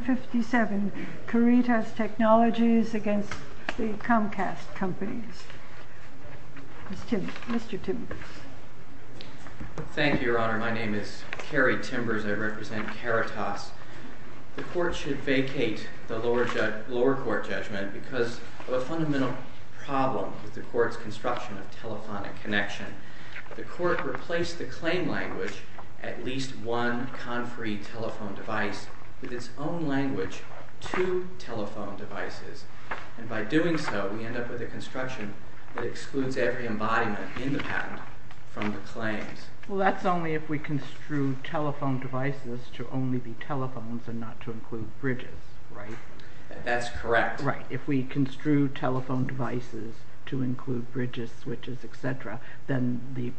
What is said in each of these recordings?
1957, Caritas Technologies v. Comcast Mr. Timbers Thank you, Your Honor. My name is Kerry Timbers. I represent Caritas. The Court should vacate the lower court judgment because of a fundamental problem with the Court's construction of telephonic connection. The Court replaced the claim language, at least one conferee telephone device, with its own language, two telephone devices. And by doing so, we end up with a construction that excludes every embodiment in the patent from the claims. Well, that's only if we construe telephone devices to only be telephones and not to include bridges, right? That's correct. If we construe telephone devices to include bridges, switches, etc., then the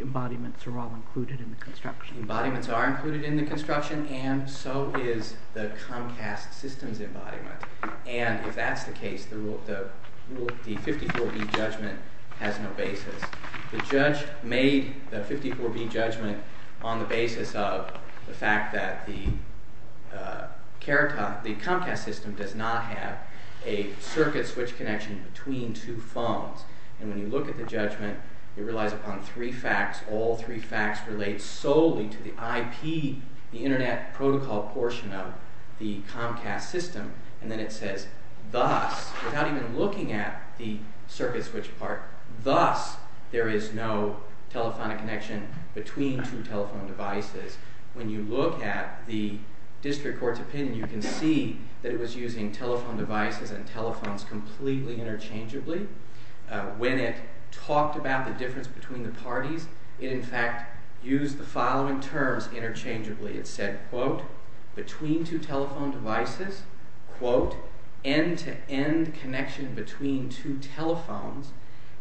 embodiments are all included in the construction. The embodiments are included in the construction, and so is the Comcast system's embodiment. And if that's the case, the 54B judgment has no basis. The judge made the 54B judgment on the basis of the fact that the Comcast system does not have a circuit switch connection between two phones. And when you look at the judgment, it relies upon three facts. All three facts relate solely to the IP, the internet protocol portion of the Comcast system. And then it says, thus, without even looking at the circuit switch part, thus there is no telephonic connection between two telephone devices. When you look at the District Court's opinion, you can see that it was using telephone devices and telephones completely interchangeably. When it talked about the difference between the parties, it in fact used the following terms interchangeably. It said, quote, between two telephone devices, quote, end-to-end connection between two telephones,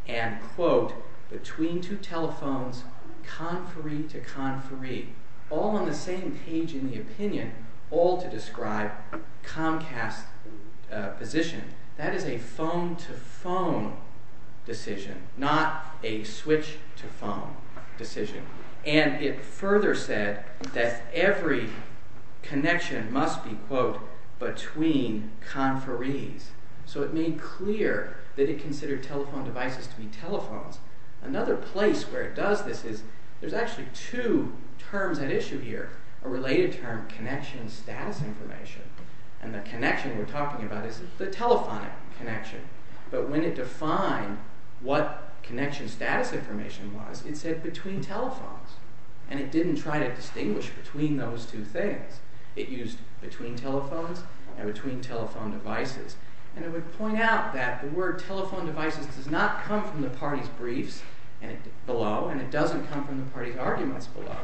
and, quote, between two telephones, conferee-to-conferee. All on the same page in the opinion, all to describe Comcast's position. That is a phone-to-phone decision, not a switch-to-phone decision. And it further said that every connection must be, quote, between conferees. So it made clear that it considered telephone devices to be telephones. Another place where it does this is, there's actually two terms at issue here, a related term, connection status information. And the connection we're talking about is the telephonic connection. But when it defined what connection status information was, it said between telephones. And it didn't try to distinguish between those two things. It used between telephones and between telephone devices. And it would point out that the word telephone devices does not come from the party's briefs below, and it doesn't come from the party's arguments below.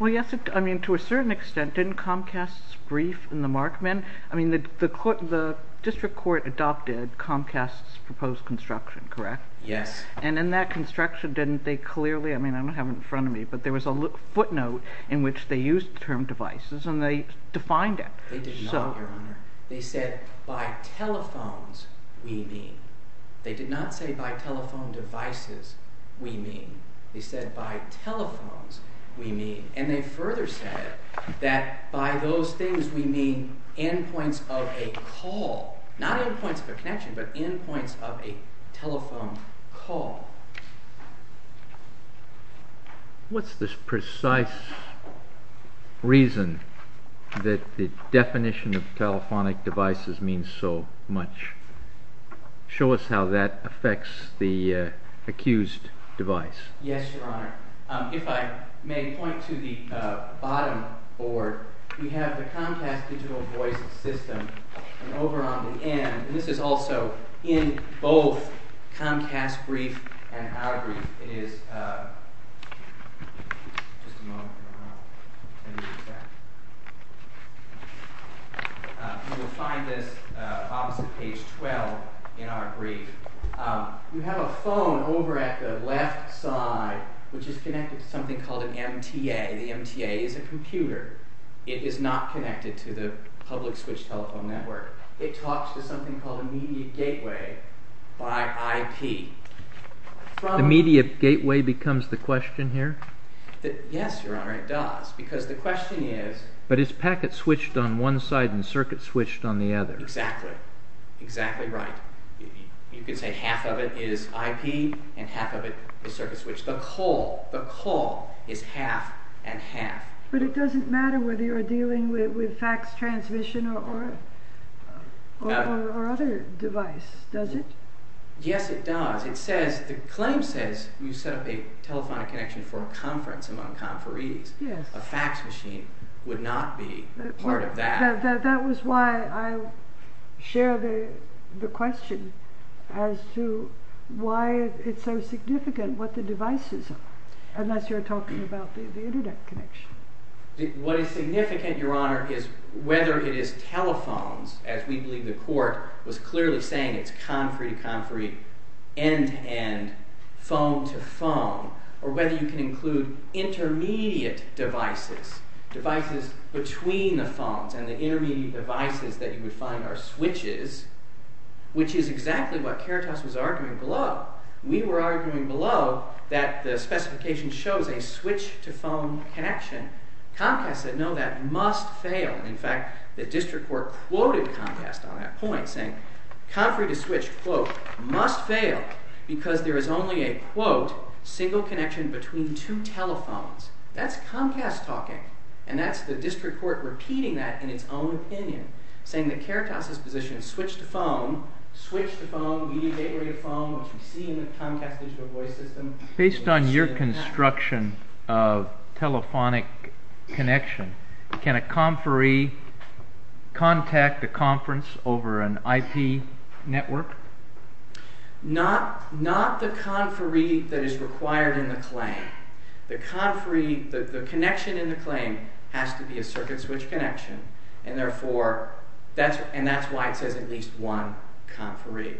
Well, yes, I mean, to a certain extent, didn't Comcast's brief in the Markman, I mean, the district court adopted Comcast's proposed construction, correct? Yes. And in that construction, didn't they clearly, I mean, I don't have it in front of me, but there was a footnote in which they used the term devices, and they defined it. They did not, Your Honor. They said by telephones we mean. They did not say by telephone devices we mean. They said by telephones we mean. And they further said that by those things we mean endpoints of a call. Not endpoints of a connection, but endpoints of a telephone call. What's this precise reason that the definition of telephonic devices means so much? Show us how that affects the accused device. Yes, Your Honor. If I may point to the bottom board, we have the Comcast digital voice system, and over on the end, and this is also in both Comcast brief and our brief, it is, just a moment. You will find this opposite page 12 in our brief. You have a phone over at the left side, which is connected to something called an MTA. The MTA is a computer. It is not connected to the public switch telephone network. It talks to something called a media gateway by IP. The media gateway becomes the question here? Yes, Your Honor, it does, because the question is. But it's packet switched on one side and circuit switched on the other. Exactly. Exactly right. You could say half of it is IP and half of it is circuit switched. The call is half and half. But it doesn't matter whether you're dealing with fax transmission or other device, does it? Yes, it does. The claim says you set up a telephonic connection for a conference among conferees. Yes. A fax machine would not be part of that. That was why I shared the question as to why it's so significant what the devices are, unless you're talking about the internet connection. What is significant, Your Honor, is whether it is telephones, as we believe the court was clearly saying it's conferee to conferee, end to end, phone to phone, or whether you can include intermediate devices, devices between the phones, and the intermediate devices that you would find are switches, which is exactly what Keratos was arguing below. We were arguing below that the specification shows a switch to phone connection. Comcast said, no, that must fail. In fact, the district court quoted Comcast on that point, saying conferee to switch, quote, must fail, because there is only a, quote, single connection between two telephones. That's Comcast talking, and that's the district court repeating that in its own opinion, saying that Keratos's position is switch to phone, switch to phone, intermediate phone, which we see in the Comcast digital voice system. Based on your construction of telephonic connection, can a conferee contact a conference over an IP network? Not the conferee that is required in the claim. The conferee, the connection in the claim has to be a circuit switch connection, and therefore, and that's why it says at least one conferee.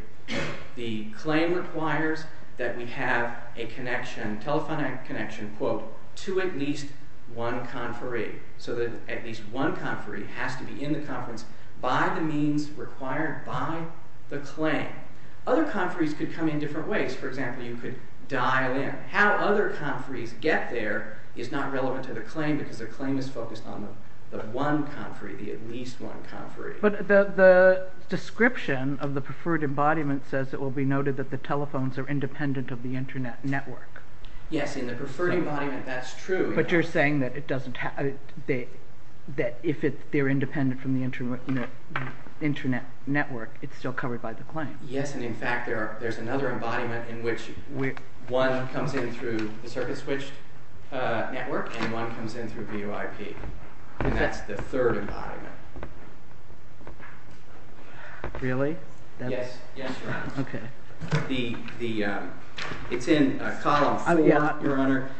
The claim requires that we have a connection, telephonic connection, quote, to at least one conferee, so that at least one conferee has to be in the conference by the means required by the claim. Other conferees could come in different ways. For example, you could dial in. How other conferees get there is not relevant to their claim because their claim is focused on the one conferee, the at least one conferee. But the description of the preferred embodiment says it will be noted that the telephones are independent of the Internet network. Yes, in the preferred embodiment, that's true. But you're saying that if they're independent from the Internet network, it's still covered by the claim. Yes, and in fact, there's another embodiment in which one comes in through the circuit switch network and one comes in through VOIP. That's the third embodiment. Really? Yes, Your Honor. It's in column four, Your Honor.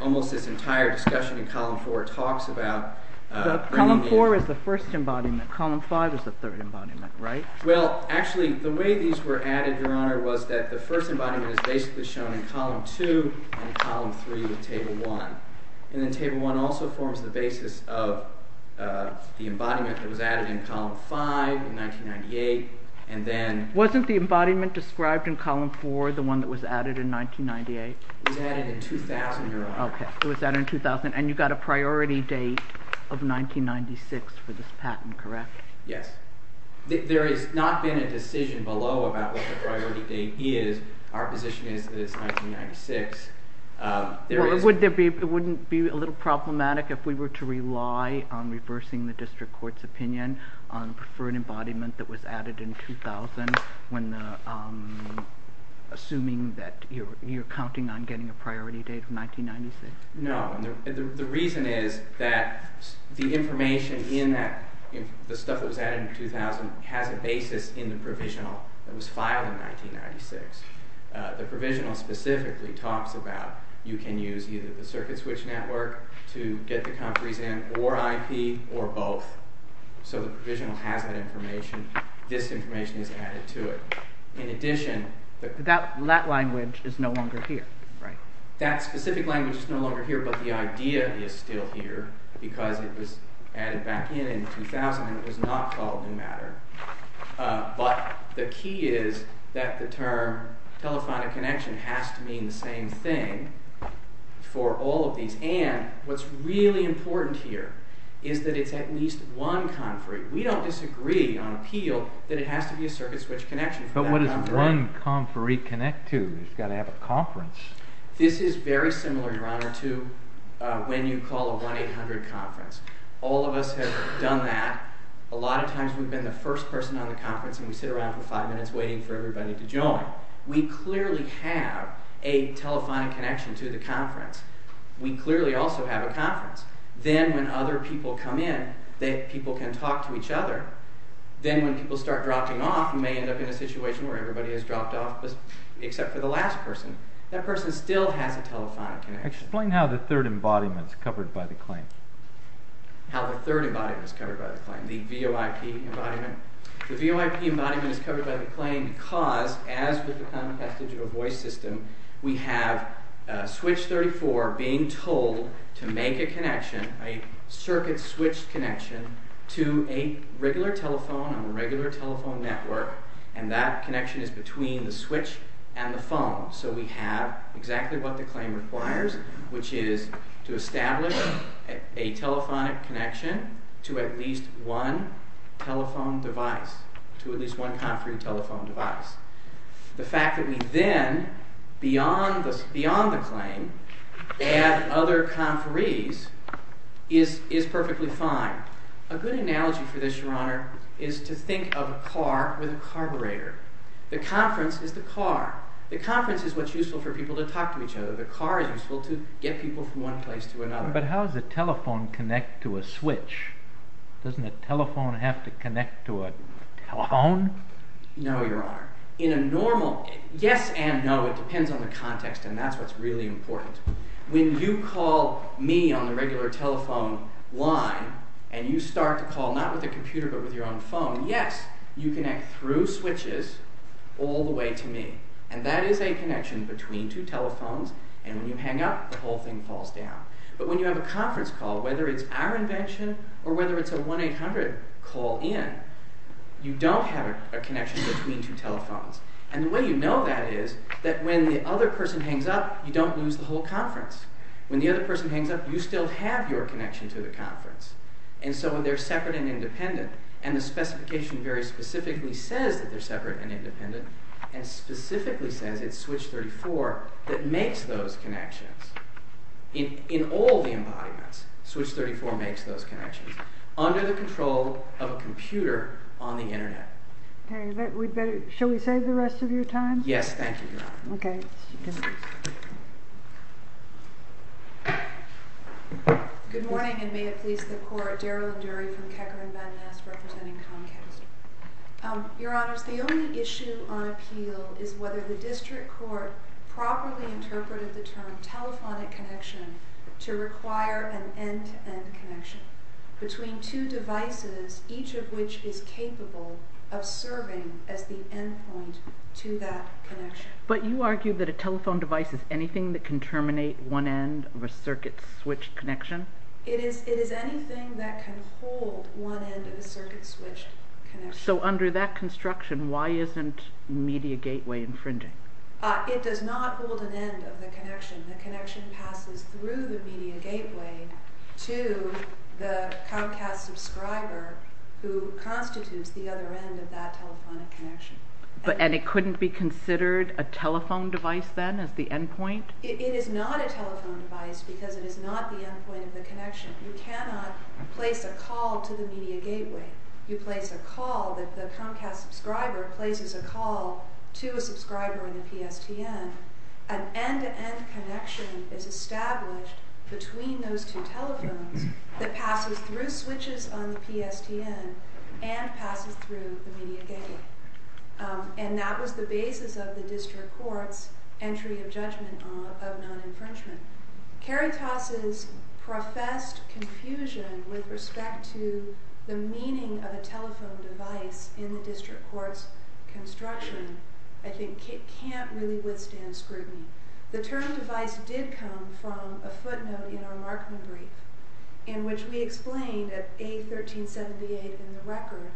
Almost this entire discussion in column four talks about bringing in Column four is the first embodiment. Column five is the third embodiment, right? Well, actually, the way these were added, Your Honor, was that the first embodiment is basically shown in column two and column three in table one. And then table one also forms the basis of the embodiment that was added in column five in 1998, and then... Wasn't the embodiment described in column four the one that was added in 1998? It was added in 2000, Your Honor. Okay, it was added in 2000, and you got a priority date of 1996 for this patent, correct? Yes. There has not been a decision below about what the priority date is. Our position is that it's 1996. It wouldn't be a little problematic if we were to rely on reversing the district court's opinion on preferred embodiment that was added in 2000 when assuming that you're counting on getting a priority date of 1996? No. The reason is that the information in that, the stuff that was added in 2000, has a basis in the provisional that was filed in 1996. The provisional specifically talks about you can use either the circuit switch network to get the compres in, or IP, or both. So the provisional has that information. This information is added to it. In addition... That language is no longer here, right? That specific language is no longer here, but the idea is still here because it was added back in in 2000, and it was not called in matter. But the key is that the term telephonic connection has to mean the same thing for all of these. And what's really important here is that it's at least one compres. We don't disagree on appeal that it has to be a circuit switch connection. But what does one compres connect to? It's got to have a compres. This is very similar, Your Honor, to when you call a 1-800 compres. All of us have done that. A lot of times we've been the first person on the compres, and we sit around for five minutes waiting for everybody to join. We clearly have a telephonic connection to the compres. We clearly also have a compres. Then when other people come in, people can talk to each other. Then when people start dropping off, they may end up in a situation where everybody has dropped off except for the last person. That person still has a telephonic connection. Explain how the third embodiment is covered by the claim. How the third embodiment is covered by the claim, the VOIP embodiment. The VOIP embodiment is covered by the claim because, as with the common passage of a voice system, we have switch 34 being told to make a connection, a circuit switch connection, to a regular telephone on a regular telephone network, and that connection is between the switch and the phone. So we have exactly what the claim requires, which is to establish a telephonic connection to at least one telephone device, to at least one conferee telephone device. The fact that we then, beyond the claim, add other conferees is perfectly fine. A good analogy for this, Your Honor, is to think of a car with a carburetor. The conference is the car. The conference is what's useful for people to talk to each other. The car is useful to get people from one place to another. But how does a telephone connect to a switch? Doesn't a telephone have to connect to a telephone? No, Your Honor. Yes and no, it depends on the context, and that's what's really important. When you call me on the regular telephone line, and you start to call not with a computer but with your own phone, yes, you connect through switches all the way to me. And that is a connection between two telephones, and when you hang up, the whole thing falls down. But when you have a conference call, whether it's our invention or whether it's a 1-800 call-in, you don't have a connection between two telephones. And the way you know that is that when the other person hangs up, you don't lose the whole conference. When the other person hangs up, you still have your connection to the conference. And so they're separate and independent, and the specification very specifically says that they're separate and independent, and specifically says it's Switch 34 that makes those connections. In all the embodiments, Switch 34 makes those connections. Under the control of a computer on the Internet. Okay, shall we save the rest of your time? Yes, thank you, Your Honor. Okay. Good morning, and may it please the Court, Daryl Nduri from Keckerin-Madness representing Comcast. Your Honors, the only issue on appeal is whether the district court properly interpreted the term between two devices, each of which is capable of serving as the endpoint to that connection. But you argue that a telephone device is anything that can terminate one end of a circuit-switched connection? It is anything that can hold one end of a circuit-switched connection. So under that construction, why isn't Media Gateway infringing? It does not hold an end of the connection. The connection passes through the Media Gateway to the Comcast subscriber who constitutes the other end of that telephonic connection. And it couldn't be considered a telephone device then as the endpoint? It is not a telephone device because it is not the endpoint of the connection. You cannot place a call to the Media Gateway. You place a call, the Comcast subscriber places a call to a subscriber in the PSTN. An end-to-end connection is established between those two telephones that passes through switches on the PSTN and passes through the Media Gateway. And that was the basis of the district court's entry of judgment of non-infringement. Caritas' professed confusion with respect to the meaning of a telephone device in the district court's construction I think can't really withstand scrutiny. The term device did come from a footnote in our Markman brief in which we explained at A1378 in the record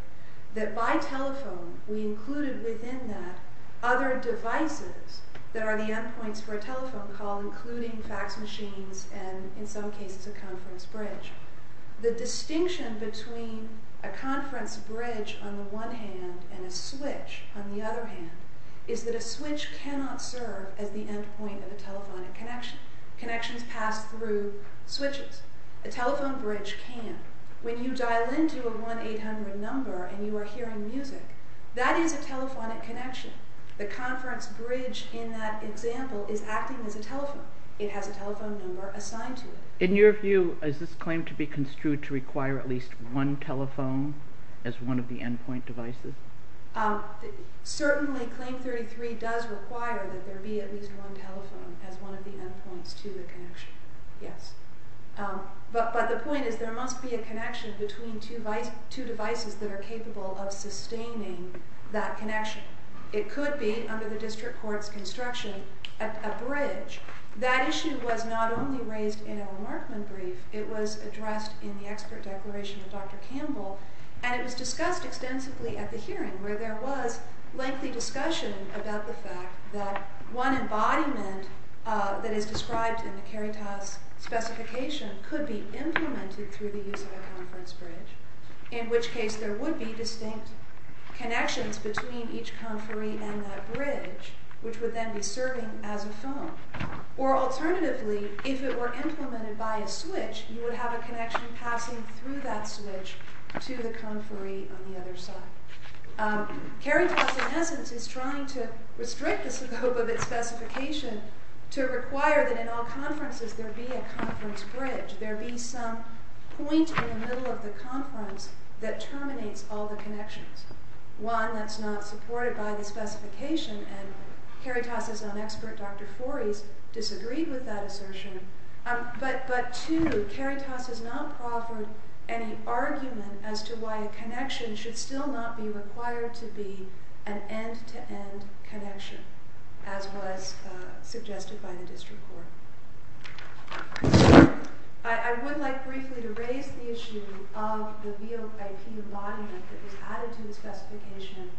that by telephone we included within that other devices that are the endpoints for a telephone call including fax machines and in some cases a conference bridge. The distinction between a conference bridge on the one hand and a switch on the other hand is that a switch cannot serve as the endpoint of a telephonic connection. Connections pass through switches. A telephone bridge can. When you dial into a 1-800 number and you are hearing music, that is a telephonic connection. The conference bridge in that example is acting as a telephone. It has a telephone number assigned to it. In your view, is this claim to be construed to require at least one telephone as one of the endpoint devices? Certainly Claim 33 does require that there be at least one telephone as one of the endpoints to the connection, yes. But the point is there must be a connection between two devices that are capable of sustaining that connection. It could be under the district court's construction a bridge. That issue was not only raised in our Markman brief, it was addressed in the expert declaration of Dr. Campbell, and it was discussed extensively at the hearing where there was lengthy discussion about the fact that one embodiment that is described in the Caritas specification could be implemented through the use of a conference bridge, in which case there would be distinct connections between each conferee and that bridge, which would then be serving as a phone. Or alternatively, if it were implemented by a switch, you would have a connection passing through that switch to the conferee on the other side. Caritas, in essence, is trying to restrict the scope of its specification to require that in all conferences there be a conference bridge, there be some point in the middle of the conference that terminates all the connections. One that's not supported by the specification, and Caritas' own expert, Dr. Foris, disagreed with that assertion. But two, Caritas has not proffered any argument as to why a connection should still not be required to be an end-to-end connection, as was suggested by the district court. I would like briefly to raise the issue of the VOIP embodiment that was added to the specification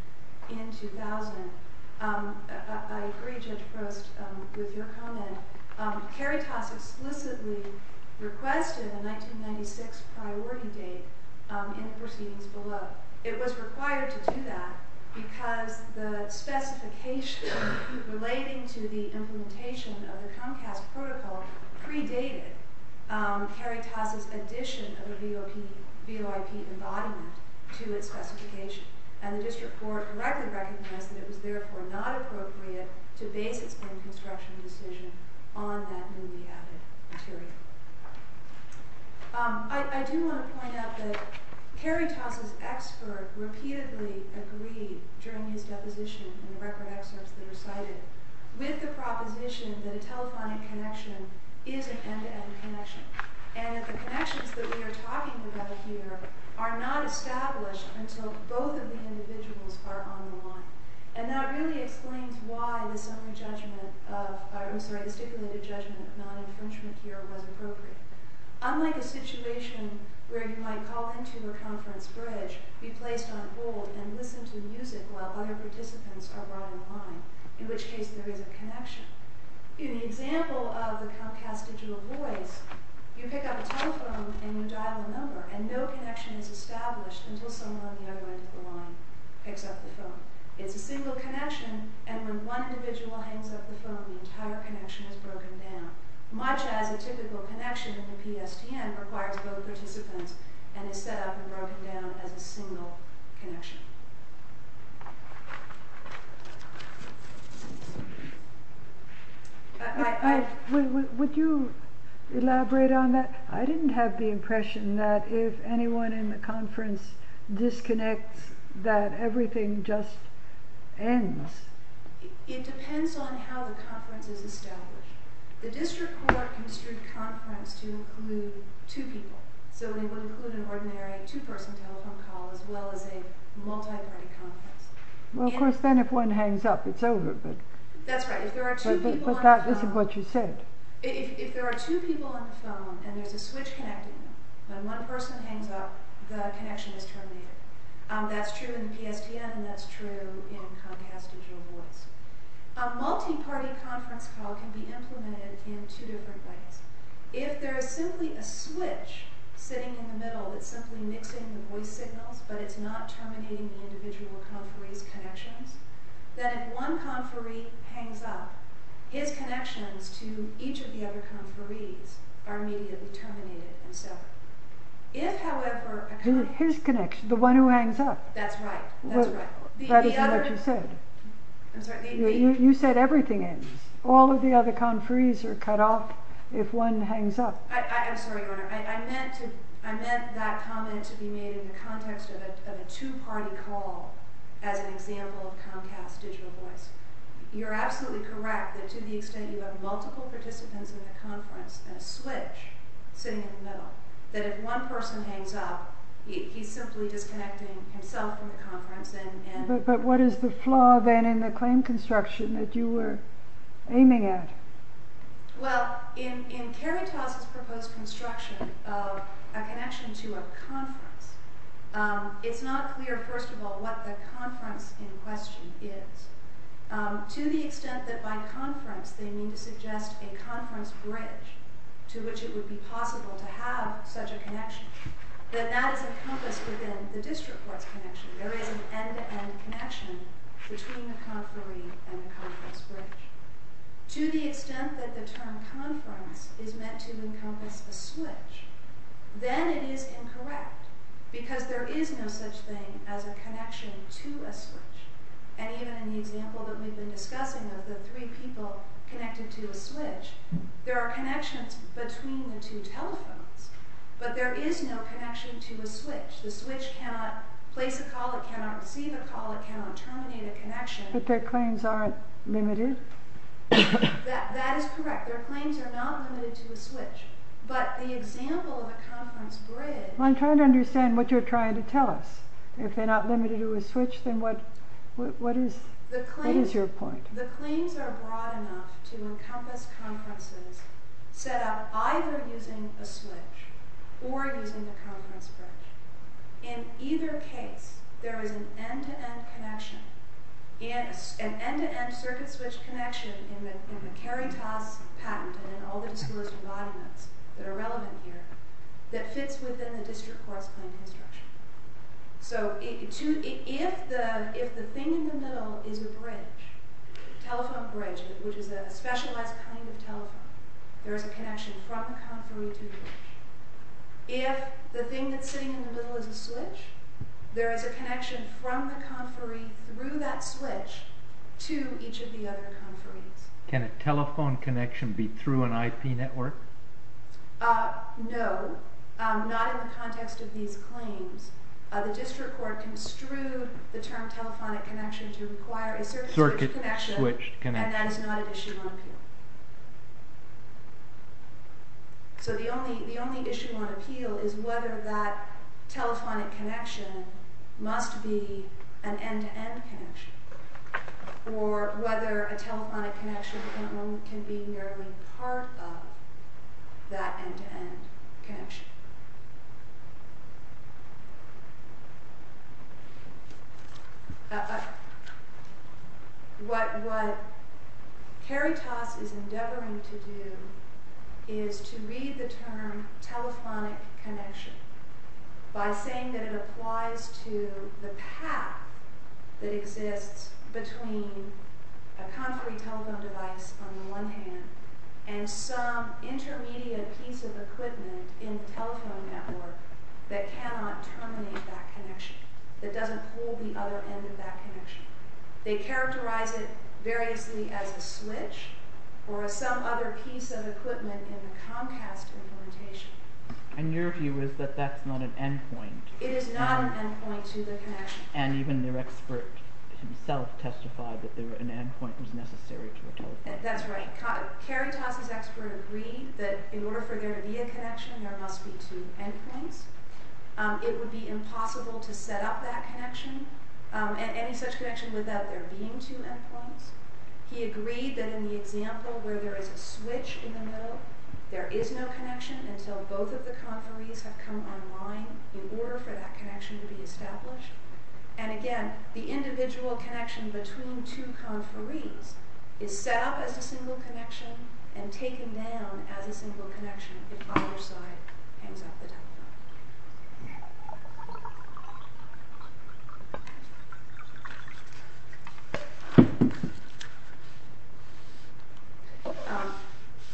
in 2000. I agree, Judge Prost, with your comment. Caritas explicitly requested a 1996 priority date in the proceedings below. It was required to do that because the specification relating to the implementation of the Comcast protocol predated Caritas' addition of a VOIP embodiment to its specification. And the district court correctly recognized that it was therefore not appropriate to base its own construction decision on that newly added material. I do want to point out that Caritas' expert repeatedly agreed, during his deposition and the record excerpts that are cited, with the proposition that a telephonic connection is an end-to-end connection, and that the connections that we are talking about here are not established until both of the individuals are on the line. And that really explains why the stipulated judgment of non-infringement here was appropriate. Unlike a situation where you might call into a conference bridge, be placed on hold, and listen to music while other participants are brought online, in which case there is a connection. In the example of the Comcast digital voice, you pick up a telephone and you dial a number, and no connection is established until someone on the other end of the line picks up the phone. It's a single connection, and when one individual hangs up the phone, the entire connection is broken down. Much as a typical connection in the PSTN requires both participants and is set up and broken down as a single connection. Would you elaborate on that? I didn't have the impression that if anyone in the conference disconnects that everything just ends. It depends on how the conference is established. The district court construed conference to include two people, so it would include an ordinary two-person telephone call as well as a multi-party conference. Well, of course, then if one hangs up, it's over. That's right. If there are two people on the phone... But that isn't what you said. If there are two people on the phone and there's a switch connecting them, when one person hangs up, the connection is terminated. That's true in the PSTN, and that's true in Comcast digital voice. A multi-party conference call can be implemented in two different ways. If there is simply a switch sitting in the middle that's simply mixing the voice signals, but it's not terminating the individual conferee's connections, then if one conferee hangs up, his connections to each of the other conferees are immediately terminated and severed. His connections, the one who hangs up. That's right. That isn't what you said. You said everything ends. All of the other conferees are cut off if one hangs up. I'm sorry, Your Honor. I meant that comment to be made in the context of a two-party call as an example of Comcast digital voice. You're absolutely correct that to the extent you have multiple participants in the conference and a switch sitting in the middle, that if one person hangs up, he's simply disconnecting himself from the conference. But what is the flaw then in the claim construction that you were aiming at? Well, in Kerry Tauss' proposed construction of a connection to a conference, it's not clear, first of all, what the conference in question is. To the extent that by conference they mean to suggest a conference bridge to which it would be possible to have such a connection, that that is encompassed within the district court's connection. There is an end-to-end connection between the conferee and the conference bridge. To the extent that the term conference is meant to encompass a switch, then it is incorrect because there is no such thing as a connection to a switch. And even in the example that we've been discussing of the three people connected to a switch, there are connections between the two telephones. But there is no connection to a switch. The switch cannot place a call, it cannot receive a call, it cannot terminate a connection. But their claims aren't limited? That is correct. Their claims are not limited to a switch. But the example of a conference bridge... I'm trying to understand what you're trying to tell us. If they're not limited to a switch, then what is your point? The claims are broad enough to encompass conferences set up either using a switch or using a conference bridge. In either case, there is an end-to-end connection, an end-to-end circuit switch connection in the KERITAS patent and in all the disclosure documents that are relevant here, that fits within the district course plan construction. So if the thing in the middle is a bridge, a telephone bridge, which is a specialized kind of telephone, there is a connection from the conferee to the bridge. If the thing that's sitting in the middle is a switch, there is a connection from the conferee through that switch to each of the other conferees. Can a telephone connection be through an IP network? No, not in the context of these claims. The district court construed the term telephonic connection to require a circuit switch connection, and that is not an issue on appeal. So the only issue on appeal is whether that telephonic connection must be an end-to-end connection, or whether a telephonic connection can be merely part of that end-to-end connection. What KERITAS is endeavoring to do is to read the term telephonic connection by saying that it applies to the path that exists between a conferee telephone device on the one hand and some intermediate piece of equipment in the telephone network that cannot terminate that connection, that doesn't hold the other end of that connection. They characterize it variously as a switch or as some other piece of equipment in the Comcast implementation. And your view is that that's not an endpoint? It is not an endpoint to the connection. And even your expert himself testified that an endpoint was necessary to a telephone. That's right. KERITAS' expert agreed that in order for there to be a connection, there must be two endpoints. It would be impossible to set up that connection, any such connection, without there being two endpoints. He agreed that in the example where there is a switch in the middle, there is no connection until both of the conferees have come online in order for that connection to be established. And again, the individual connection between two conferees is set up as a single connection and taken down as a single connection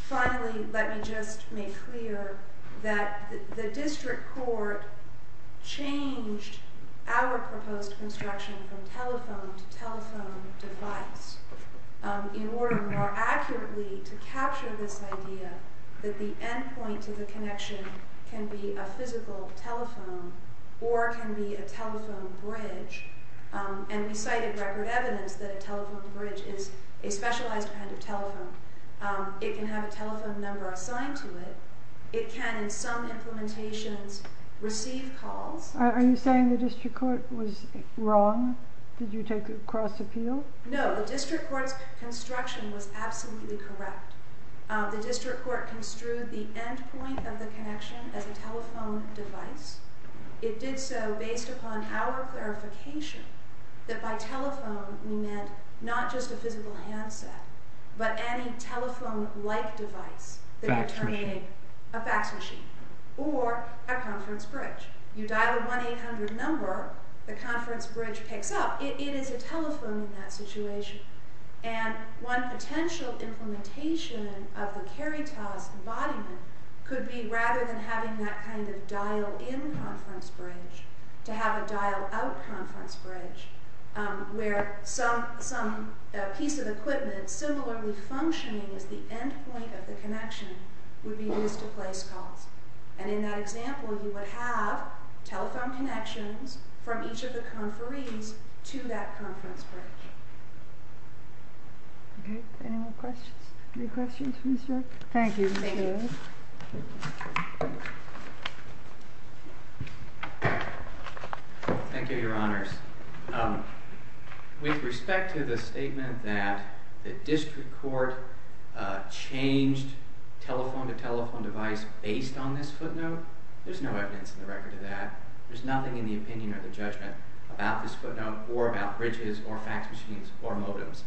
Finally, let me just make clear that the district court changed our proposed construction from telephone to telephone device in order more accurately to capture this idea that the endpoint to the connection can be a physical telephone or can be a telephone bridge. And we cited record evidence that a telephone bridge is a specialized kind of telephone. It can have a telephone number assigned to it. It can, in some implementations, receive calls. Are you saying the district court was wrong? Did you take a cross-appeal? No, the district court's construction was absolutely correct. The district court construed the endpoint of the connection as a telephone device. It did so based upon our clarification that by telephone we meant not just a physical handset, but any telephone-like device that could turn into a fax machine or a conference bridge. You dial a 1-800 number, the conference bridge picks up. It is a telephone in that situation. One potential implementation of the Caritas embodiment could be rather than having that kind of dial-in conference bridge, to have a dial-out conference bridge where some piece of equipment similarly functioning as the endpoint of the connection would be used to place calls. In that example, you would have telephone connections from each of the conferees to that conference bridge. Any more questions? Thank you. Thank you, Your Honors. With respect to the statement that the district court changed telephone-to-telephone device based on this footnote, there's no evidence in the record of that. There's nothing in the opinion or the judgment about this footnote or about bridges or fax machines or modems.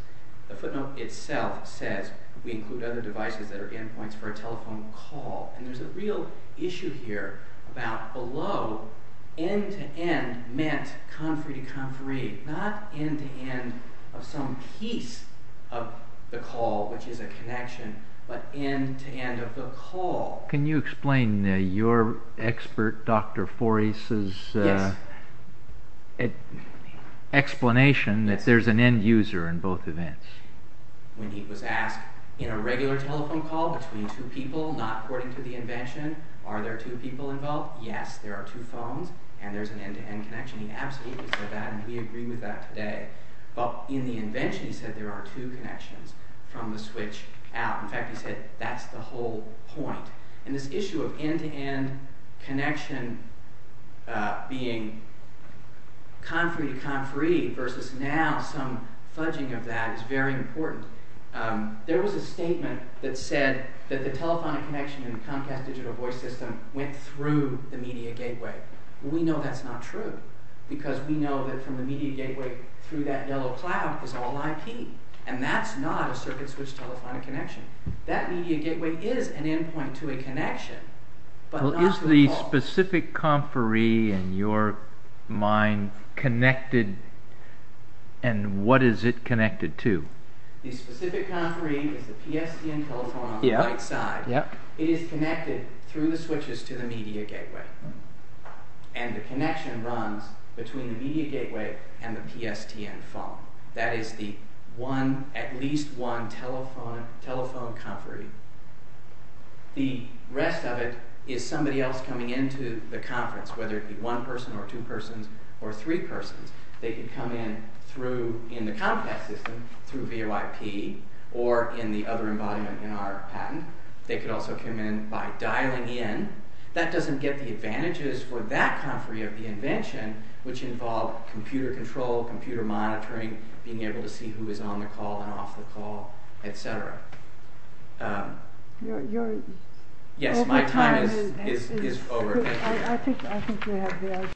The footnote itself says we include other devices that are endpoints for a telephone call. And there's a real issue here about below, end-to-end meant conferee-to-conferee, not end-to-end of some piece of the call which is a connection, but end-to-end of the call. Can you explain your expert, Dr. Foris' explanation that there's an end-user in both events? When he was asked in a regular telephone call between two people, not according to the invention, are there two people involved? Yes, there are two phones, and there's an end-to-end connection. He absolutely said that, and we agree with that today. But in the invention, he said there are two connections from the switch out. In fact, he said that's the whole point. And this issue of end-to-end connection being conferee-to-conferee versus now some fudging of that is very important. There was a statement that said that the telephonic connection in the Comcast digital voice system went through the media gateway. We know that's not true, because we know that from the media gateway through that yellow cloud was all IP, and that's not a circuit-switched telephonic connection. That media gateway is an endpoint to a connection, but not to a phone. Is the specific conferee in your mind connected, and what is it connected to? The specific conferee is the PSTN telephone on the right side. It is connected through the switches to the media gateway, and the connection runs between the media gateway and the PSTN phone. That is the one, at least one telephone conferee. The rest of it is somebody else coming into the conference, whether it be one person or two persons or three persons. They could come in through, in the Comcast system, through VOIP or in the other embodiment in our patent. They could also come in by dialing in. That doesn't get the advantages for that conferee of the invention, which involved computer control, computer monitoring, being able to see who is on the call and off the call, etc. Yes, my time is over.